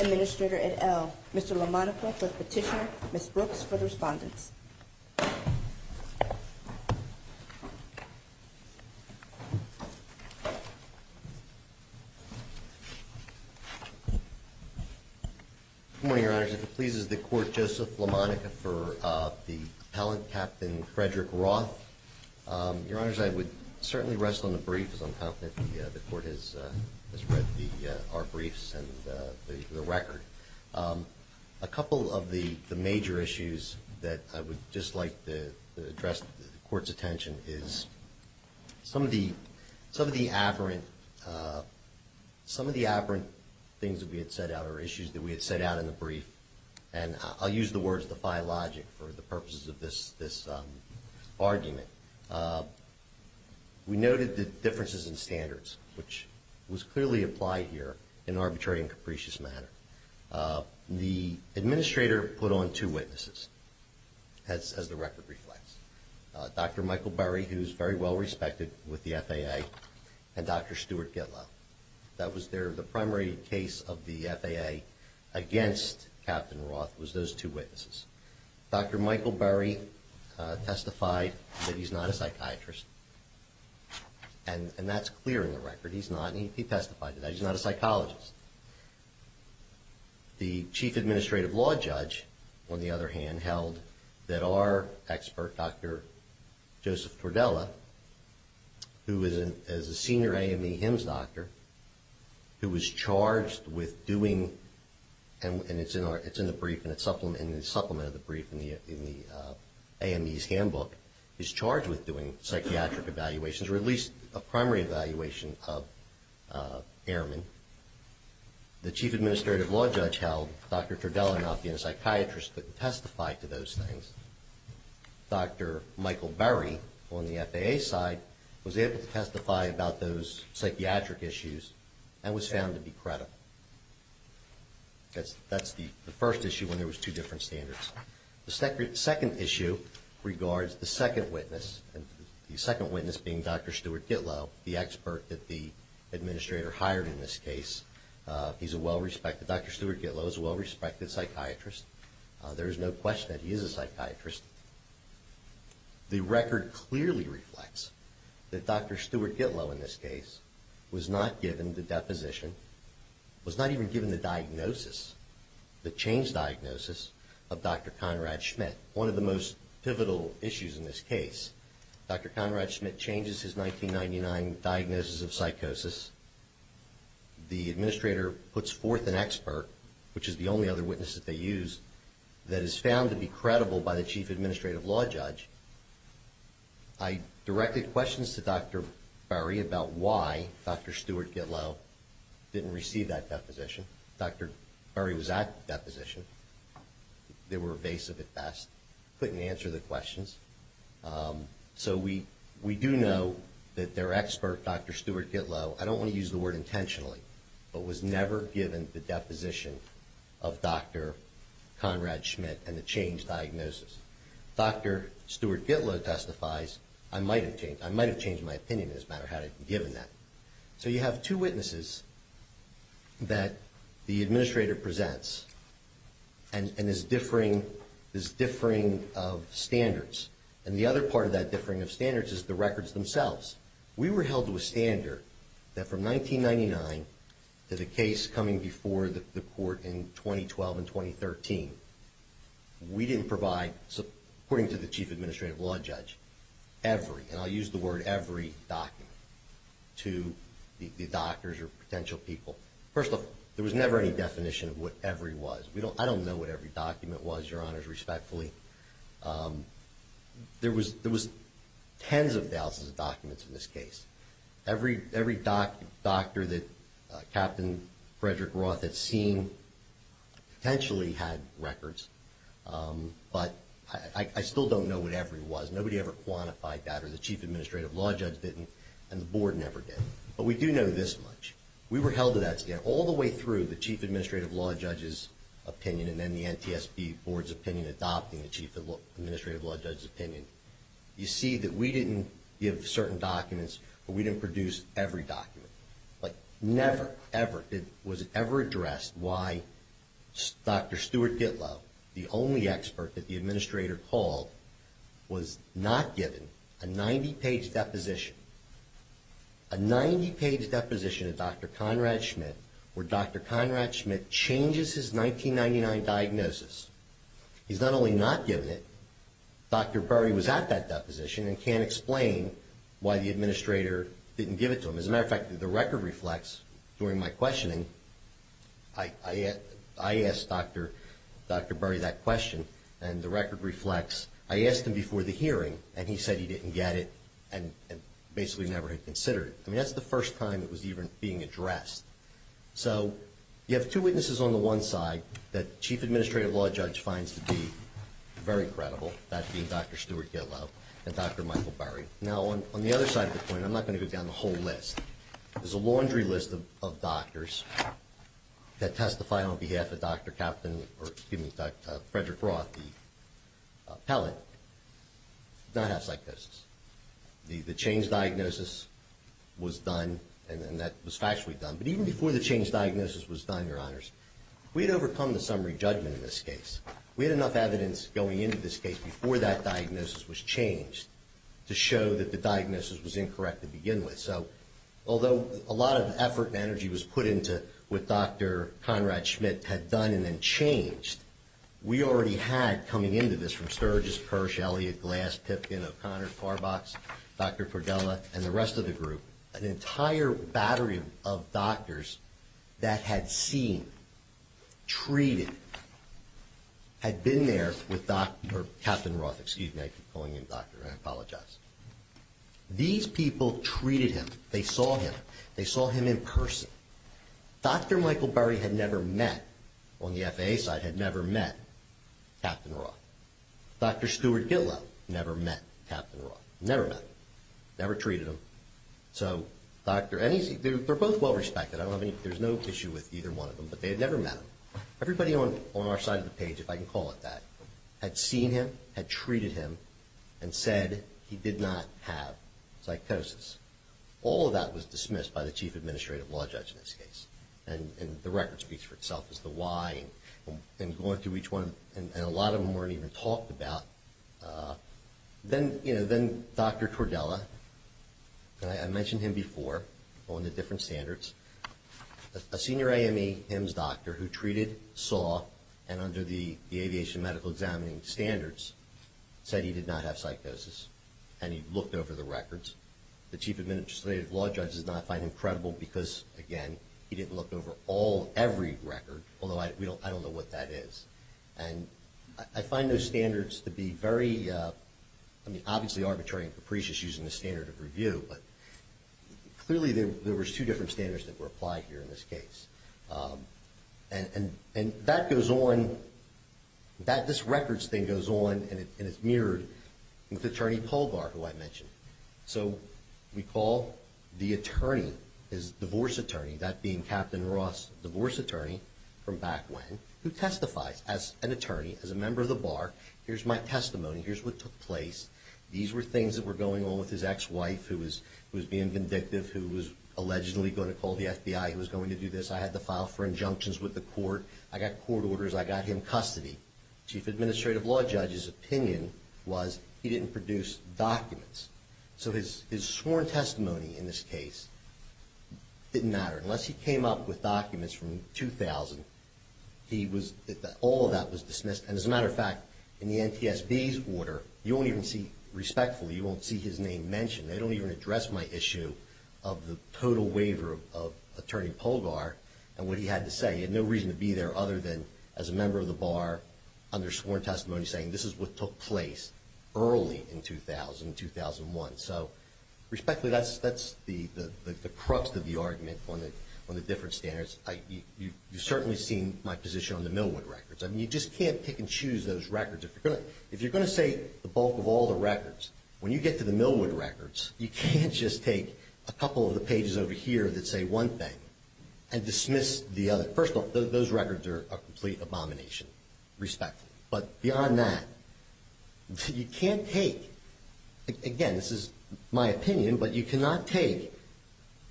Administrator, et al. Mr. LaMonica for the petitioner, Ms. Brooks for the respondents. Good morning, Your Honors. If it pleases the Court, Joseph LaMonica for the appellant, Captain Frederick Roth. Your Honors, I would certainly rest on the brief, as I'm confident the Court has read our briefs and the record. A couple of the major issues that I would just like to address the Court's attention is some of the afferent things that we had set out in the brief, and I'll use the words defy logic for the purposes of this argument. We noted the differences in standards, which was clearly applied here in an arbitrary and capricious manner. The Administrator put on two witnesses as the record reflects. Dr. Michael Burry, who's very well respected with the FAA, and Dr. Stuart Gitlow. That was the primary case of the FAA against Captain Roth, was those two witnesses. Dr. Michael Burry testified that he's not a psychiatrist, and that's clear in the record. He's not, and he testified that he's not a psychologist. The Chief Administrative Law Judge, on the other hand, held that our expert, Dr. Joseph Tordella, who is a senior AME HIMSS doctor, who was charged with doing, and it's in the supplement of the brief in the AME's handbook, is charged with doing psychiatric evaluations, or at least a primary evaluation of airmen. The Chief Administrative Law Judge held Dr. Tordella, not being a psychiatrist, couldn't testify to those things. Dr. Michael Burry, on the FAA side, was able to testify about those psychiatric issues and was found to be credible. That's the first issue when there was two different standards. The second issue regards the second witness, the second witness being Dr. Stuart Gitlow, the expert that the Administrator hired in this case. Dr. Stuart Gitlow is a well-respected psychiatrist. There is no question that he is a psychiatrist. The record clearly reflects that Dr. Stuart Gitlow, in this case, was not given the deposition, was not even given the diagnosis, the changed diagnosis, of Dr. Conrad Schmidt. One of the most pivotal issues in this case, Dr. Conrad Schmidt changes his 1999 diagnosis of psychosis. The Administrator puts forth an expert, which is the only other witness that they use, that is found to be credible by the Chief Administrative Law Judge. I directed questions to Dr. Burry about why Dr. Stuart Gitlow didn't receive that deposition. Dr. Burry was at the deposition. They were evasive at best, couldn't answer the questions. We do know that their expert, Dr. Stuart Gitlow, I don't want to use the word intentionally, but was never given the deposition of Dr. Conrad Schmidt and the changed diagnosis. Dr. Stuart Gitlow testifies, I might have changed my opinion as a matter of how I had been given that. So you have two witnesses that the Administrator presents and is differing of standards. And the other part of that differing of standards is the records themselves. We were held to a standard that from 1999 to the case coming before the court in 2012 and 2013, we didn't provide, according to the Chief Administrative Law Judge, every, and I'll use the word every, document to the doctors or potential people. First of all, there was never any definition of what every was. I don't know what every document was, Your Honors, respectfully. There was tens of thousands of documents in this case. Every doctor that Captain Frederick Roth had seen potentially had records, but I still don't know what every was. Nobody ever quantified that, or the Chief Administrative Law Judge didn't, and the Board never did. But we do know this much. We were held to that standard all the way through the Chief Administrative Law Judge's opinion and then the NTSB Board's opinion adopting the Chief Administrative Law Judge's opinion. You see that we didn't give certain documents, but we didn't produce every document. Never, ever was it ever addressed why Dr. Stuart Gitlow, the only expert that the Administrator called, was not given a 90-page deposition of Dr. Conrad Schmidt, where Dr. Conrad Schmidt changes his 1999 diagnosis. He's not only not given it, Dr. Burry was at that deposition and can't explain why the Administrator didn't give it to him. As a matter of fact, the record reflects, during my questioning, I asked Dr. Burry that question, and the record reflects, I asked him before the hearing, and he said he didn't get it and basically never had considered it. I mean, that's the first time it was even being addressed. So you have two witnesses on the one side that the Chief Administrative Law Judge finds to be very credible, that being Dr. Stuart Gitlow and Dr. Michael Burry. Now, on the other side of the point, I'm not going to go down the whole list. There's a laundry list of doctors that testified on behalf of Dr. Captain, or excuse me, Frederick Roth, the appellate, did not have psychosis. The change diagnosis was done, and that was factually done. But even before the change diagnosis was done, Your Honors, we had overcome the summary judgment in this case. We had enough evidence going into this case before that diagnosis was changed to show that the diagnosis was incorrect to begin with. So although a lot of effort and energy was put into what Dr. Conrad Schmidt had done and then changed, we already had coming into this from Sturgis, Kirsch, Elliott, Glass, Pipkin, O'Connor, Carbox, Dr. Cordella, and the rest of the group, an entire battery of doctors that had seen, treated, had been there with Dr. Captain Roth. Excuse me, I keep calling him doctor. I apologize. These people treated him. They saw him. They saw him in person. Dr. Michael Burry had never met, on the FAA side, had never met Captain Roth. Dr. Stuart Gitlow never met Captain Roth. Never met him. Never treated him. They're both well respected. There's no issue with either one of them, but they had never met him. Everybody on our side of the page, if I can call it that, had seen him, had treated him, and said he did not have psychosis. All of that was dismissed by the Chief Administrative Law Judge in this case, and the record speaks for itself as to why, and going through each one, and a lot of them weren't even talked about. Then Dr. Cordella, I mentioned him before on the different standards. A senior AME HIMS doctor who treated, saw, and under the aviation medical examining standards, said he did not have psychosis, and he looked over the records. The Chief Administrative Law Judge does not find him credible because, again, he didn't look over all, every record, although I don't know what that is. And I find those standards to be very, I mean, obviously arbitrary and capricious using the standard of review, but clearly there was two different standards that were applied here in this case. And that goes on, this records thing goes on, and it's mirrored with Attorney Colbar, who I mentioned. So we call the attorney, his divorce attorney, that being Captain Ross, divorce attorney from back when, who testifies as an attorney, as a member of the bar, here's my testimony, here's what took place. These were things that were going on with his ex-wife, who was being vindictive, who was allegedly going to call the FBI, who was going to do this. I had to file for injunctions with the court, I got court orders, I got him custody. Chief Administrative Law Judge's opinion was he didn't produce documents. So his sworn testimony in this case didn't matter. Unless he came up with documents from 2000, all of that was dismissed. And as a matter of fact, in the NTSB's order, you won't even see, respectfully, you won't see his name mentioned. They don't even address my issue of the total waiver of Attorney Colbar and what he had to say. He had no reason to be there other than as a member of the bar under sworn testimony saying this is what took place early in 2000, 2001. So respectfully, that's the crux of the argument on the different standards. You've certainly seen my position on the Millwood records. You just can't pick and choose those records. If you're going to say the bulk of all the records, when you get to the Millwood records, you can't just take a couple of the pages over here that say one thing and dismiss the other. First of all, those records are a complete abomination, respectfully. But beyond that, you can't take, again, this is my opinion, but you cannot take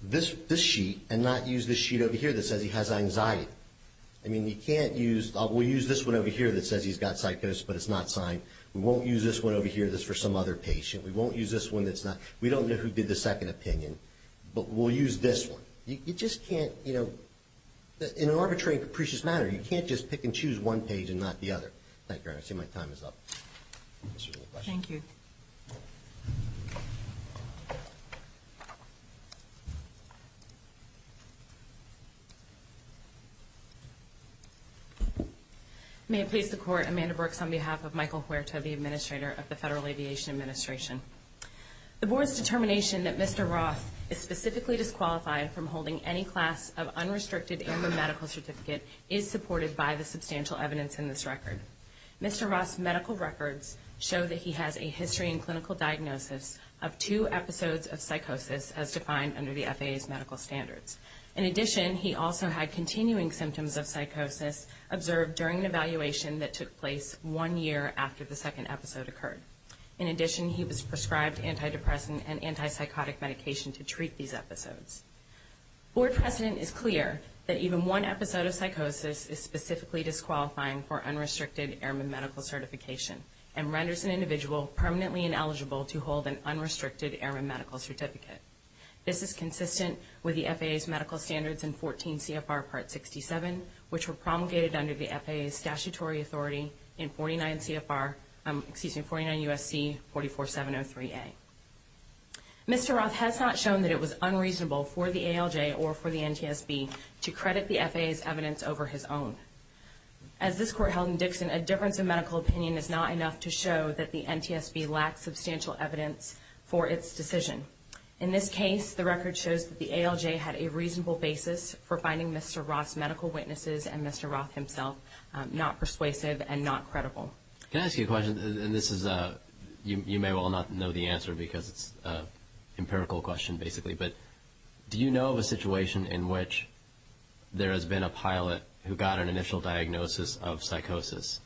this sheet and not use this sheet over here that says he has anxiety. I mean, you can't use, we'll use this one over here that says he's got psychosis, but it's not signed. We won't use this one over here that's for some other patient. We won't use this one that's not. We don't know who did the second opinion, but we'll use this one. You just can't, in an arbitrary and capricious manner, you can't just pick and choose one page and not the other. Thank you, Your Honor. I see my time is up. Thank you. May it please the Court, Amanda Brooks on behalf of Michael Huerta, the administrator of the Federal Aviation Administration. The Board's determination that Mr. Roth is specifically disqualified from holding any class of unrestricted AMRA medical certificate is supported by the substantial evidence in this record. Mr. Roth's medical records show that he has a history and clinical diagnosis of two episodes of psychosis as defined under the FAA's medical standards. In addition, he also had continuing symptoms of psychosis observed during an evaluation that took place one year after the second episode occurred. In addition, he was prescribed antidepressant and antipsychotic medication to treat these episodes. Board precedent is clear that even one episode of psychosis is specifically disqualifying for unrestricted AMRA medical certification and renders an individual permanently ineligible to hold an unrestricted AMRA medical certificate. This is consistent with the FAA's medical standards in 14 CFR Part 67, which were promulgated under the FAA's statutory authority in 49 U.S.C. 44703A. Mr. Roth has not shown that it was unreasonable for the ALJ or for the NTSB to credit the FAA's evidence over his own. As this Court held in Dixon, a difference of medical opinion is not enough to show that the NTSB lacks substantial evidence for its decision. In this case, the record shows that the ALJ had a reasonable basis for finding Mr. Roth's medical witnesses and Mr. Roth himself not persuasive and not credible. Can I ask you a question? And this is, you may well not know the answer because it's an empirical question basically, but do you know of a situation in which there has been a pilot who got an initial diagnosis of psychosis,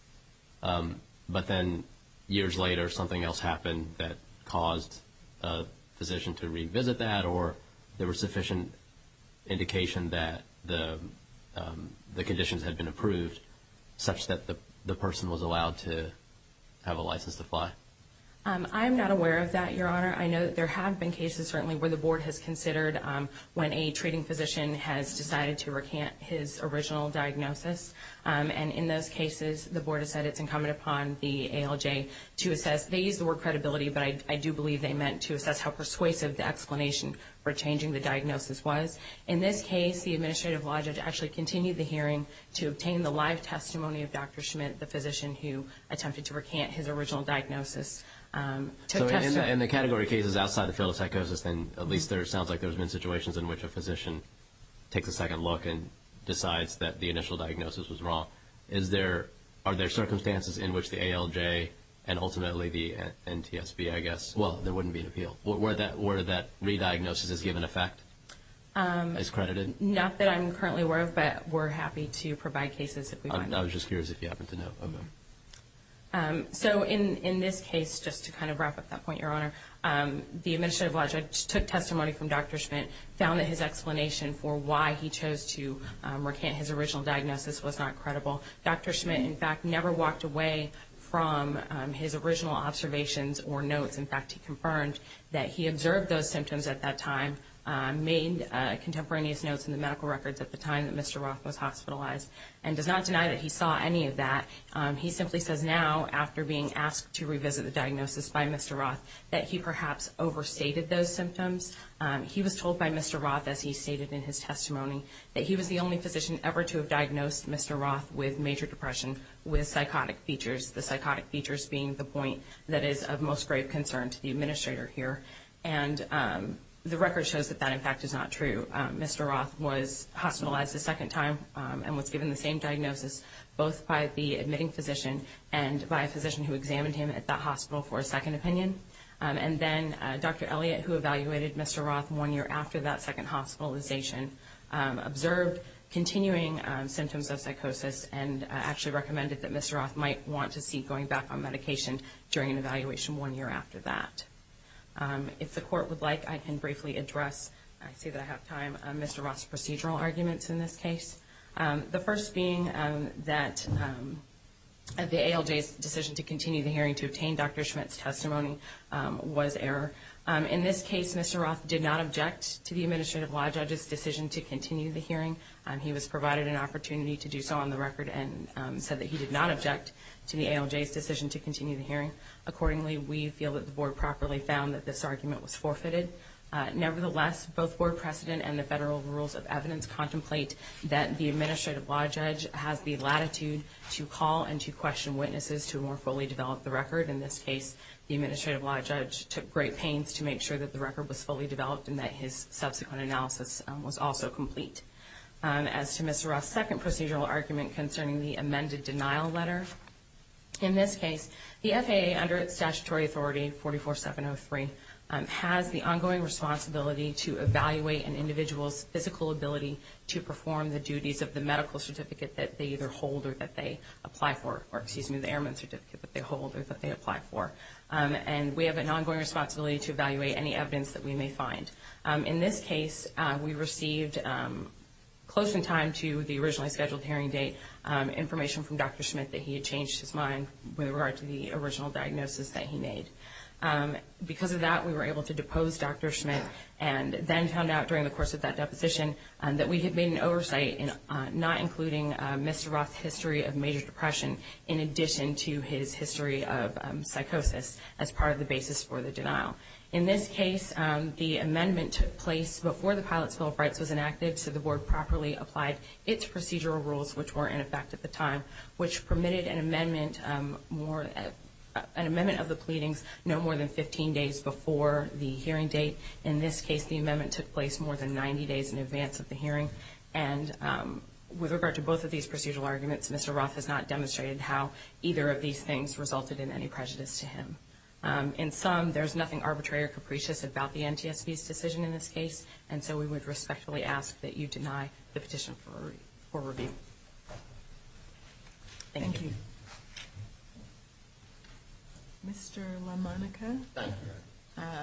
but then years later something else happened that caused a physician to revisit that, or there was sufficient indication that the conditions had been approved such that the person was allowed to have a license to fly? I'm not aware of that, Your Honor. I know that there have been cases certainly where the Board has considered when a treating physician has decided to recant his original diagnosis, and in those cases the Board has said it's incumbent upon the ALJ to assess. They use the word credibility, but I do believe they meant to assess how persuasive the explanation for changing the diagnosis was. In this case, the administrative logic actually continued the hearing to obtain the live testimony of Dr. Schmidt, the physician who attempted to recant his original diagnosis. So in the category of cases outside the field of psychosis, then at least there sounds like there's been situations in which a physician takes a second look and decides that the initial diagnosis was wrong. Are there circumstances in which the ALJ and ultimately the NTSB, I guess, well, there wouldn't be an appeal. Were that re-diagnosis as given effect, as credited? Not that I'm currently aware of, but we're happy to provide cases if we find them. I was just curious if you happened to know of them. So in this case, just to kind of wrap up that point, Your Honor, the administrative logic took testimony from Dr. Schmidt, found that his explanation for why he chose to recant his original diagnosis was not credible. Dr. Schmidt, in fact, never walked away from his original observations or notes. In fact, he confirmed that he observed those symptoms at that time, made contemporaneous notes in the medical records at the time that Mr. Roth was hospitalized, and does not deny that he saw any of that. He simply says now, after being asked to revisit the diagnosis by Mr. Roth, that he perhaps overstated those symptoms. He was told by Mr. Roth, as he stated in his testimony, that he was the only physician ever to have diagnosed Mr. Roth with major depression with psychotic features, the psychotic features being the point that is of most grave concern to the administrator here. And the record shows that that, in fact, is not true. Mr. Roth was hospitalized a second time and was given the same diagnosis, both by the admitting physician and by a physician who examined him at that hospital for a second opinion. And then Dr. Elliott, who evaluated Mr. Roth one year after that second hospitalization, observed continuing symptoms of psychosis and actually recommended that Mr. Roth might want to see going back on medication during an evaluation one year after that. If the court would like, I can briefly address, I see that I have time, Mr. Roth's procedural arguments in this case. The first being that the ALJ's decision to continue the hearing to obtain Dr. Schmidt's testimony was error. In this case, Mr. Roth did not object to the administrative law judge's decision to continue the hearing. He was provided an opportunity to do so on the record and said that he did not object to the ALJ's decision to continue the hearing. Accordingly, we feel that the board properly found that this argument was forfeited. Nevertheless, both board precedent and the federal rules of evidence contemplate that the administrative law judge has the latitude to call and to question witnesses to more fully develop the record. In this case, the administrative law judge took great pains to make sure that the record was fully developed and that his subsequent analysis was also complete. As to Mr. Roth's second procedural argument concerning the amended denial letter, in this case, the FAA under statutory authority 44703 has the ongoing responsibility to evaluate an individual's physical ability to perform the duties of the medical certificate that they either hold or that they apply for, or excuse me, the airman certificate that they hold or that they apply for. And we have an ongoing responsibility to evaluate any evidence that we may find. In this case, we received close in time to the originally scheduled hearing date information from Dr. Schmidt that he had changed his mind with regard to the original diagnosis that he made. Because of that, we were able to depose Dr. Schmidt and then found out during the course of that deposition that we had made an oversight in not including Mr. Roth's history of major depression in addition to his history of psychosis as part of the basis for the denial. In this case, the amendment took place before the Pilots' Bill of Rights was enacted so the board properly applied its procedural rules, which were in effect at the time, which permitted an amendment of the pleadings no more than 15 days before the hearing date. In this case, the amendment took place more than 90 days in advance of the hearing. And with regard to both of these procedural arguments, Mr. Roth has not demonstrated how either of these things resulted in any prejudice to him. In sum, there's nothing arbitrary or capricious about the NTSB's decision in this case, and so we would respectfully ask that you deny the petition for review. Thank you. Mr. LaMonica,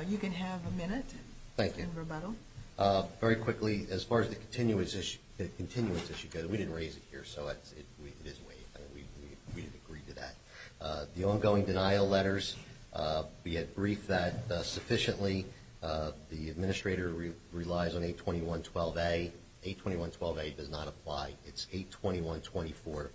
you can have a minute in rebuttal. Thank you. Very quickly, as far as the continuance issue goes, we didn't raise it here, so it is waived. We didn't agree to that. The ongoing denial letters, we had briefed that sufficiently. The administrator relies on 821.12a. 821.12a does not apply. It's 821.24.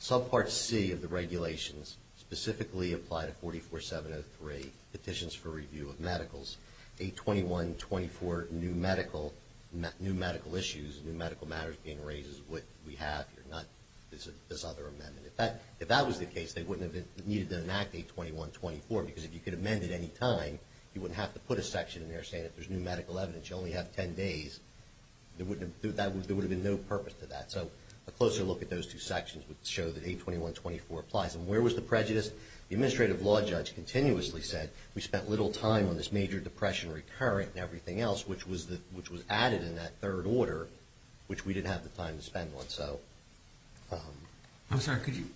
Subpart C of the regulations specifically apply to 44703, petitions for review of medicals. 821.24, new medical issues, new medical matters being raised is what we have here, not this other amendment. If that was the case, they wouldn't have needed to enact 821.24, because if you could amend it any time, you wouldn't have to put a section in there saying if there's new medical evidence, you only have 10 days. There would have been no purpose to that. So a closer look at those two sections would show that 821.24 applies. And where was the prejudice? The administrative law judge continuously said, we spent little time on this major depression recurrent and everything else, which was added in that third order, which we didn't have the time to spend on. I'm sorry, could you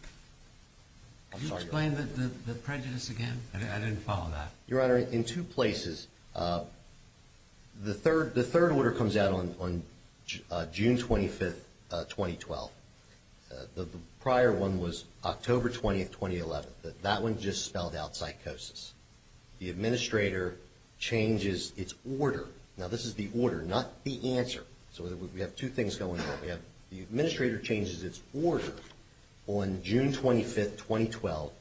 explain the prejudice again? I didn't follow that. Your Honor, in two places. The third order comes out on June 25, 2012. The prior one was October 20, 2011. That one just spelled out psychosis. The administrator changes its order. Now, this is the order, not the answer. So we have two things going on. We have the administrator changes its order on June 25, 2012,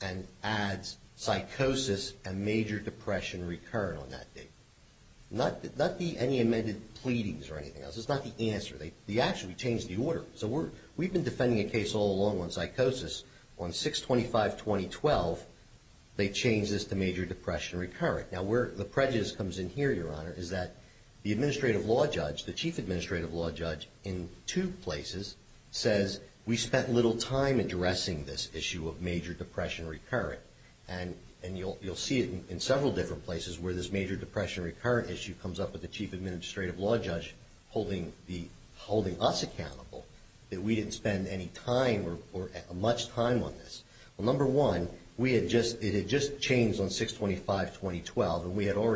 and adds psychosis and major depression recurrent on that date. Not the any amended pleadings or anything else. It's not the answer. The action, we changed the order. So we've been defending a case all along on psychosis. On 6-25-2012, they changed this to major depression recurrent. Now, where the prejudice comes in here, Your Honor, is that the administrative law judge, the chief administrative law judge, in two places says, we spent little time addressing this issue of major depression recurrent. And you'll see it in several different places where this major depression recurrent issue comes up with the chief administrative law judge holding us accountable that we didn't spend any time or much time on this. Well, number one, it had just changed on 6-25-2012,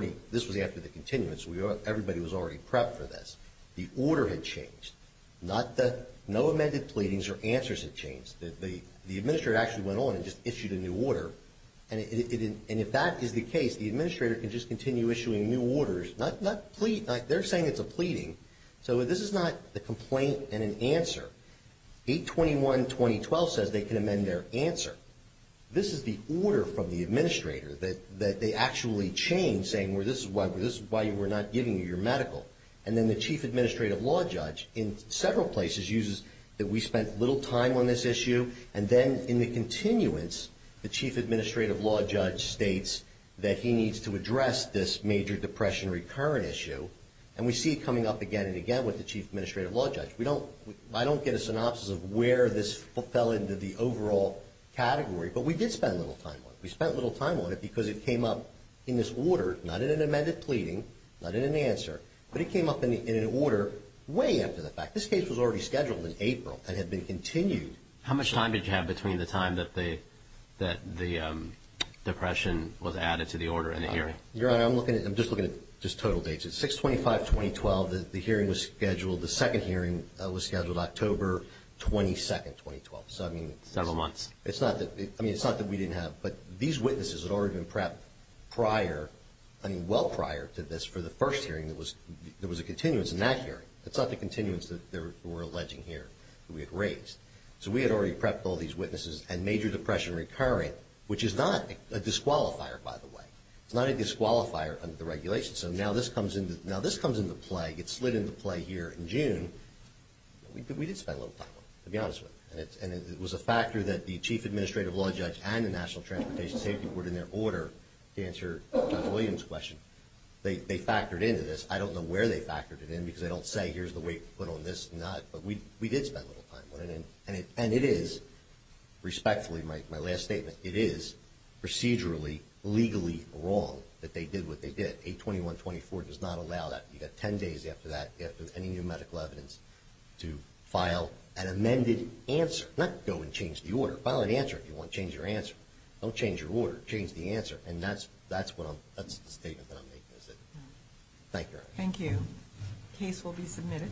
and this was after the continuance. Everybody was already prepped for this. The order had changed. No amended pleadings or answers had changed. The administrator actually went on and just issued a new order. And if that is the case, the administrator can just continue issuing new orders. They're saying it's a pleading. So this is not a complaint and an answer. 8-21-2012 says they can amend their answer. This is the order from the administrator that they actually changed, saying this is why we're not giving you your medical. And then the chief administrative law judge in several places uses that we spent little time on this issue. And then in the continuance, the chief administrative law judge states that he needs to address this major depression recurrent issue. And we see it coming up again and again with the chief administrative law judge. I don't get a synopsis of where this fell into the overall category, but we did spend a little time on it. We spent a little time on it because it came up in this order, not in an amended pleading, not in an answer, but it came up in an order way after the fact. This case was already scheduled in April and had been continued. How much time did you have between the time that the depression was added to the order and the hearing? Your Honor, I'm just looking at just total dates. It's 6-25-2012. The hearing was scheduled. The second hearing was scheduled October 22, 2012. Several months. It's not that we didn't have. But these witnesses had already been prepped prior, well prior to this for the first hearing. There was a continuance in that hearing. It's not the continuance that we're alleging here that we had raised. So we had already prepped all these witnesses and major depression recurrent, which is not a disqualifier, by the way. It's not a disqualifier under the regulations. So now this comes into play. It slid into play here in June. We did spend a little time on it, to be honest with you. And it was a factor that the Chief Administrative Law Judge and the National Transportation Safety Board, in their order to answer John Williams' question, they factored into this. I don't know where they factored it in because they don't say, here's the weight put on this. But we did spend a little time on it. And it is, respectfully, my last statement, it is procedurally, legally wrong that they did what they did. 821-24 does not allow that. You've got 10 days after that, after any new medical evidence, to file an amended answer. Not go and change the order. File an answer if you want to change your answer. Don't change your order. Change the answer. And that's the statement that I'm making. Thank you. Thank you. Case will be submitted.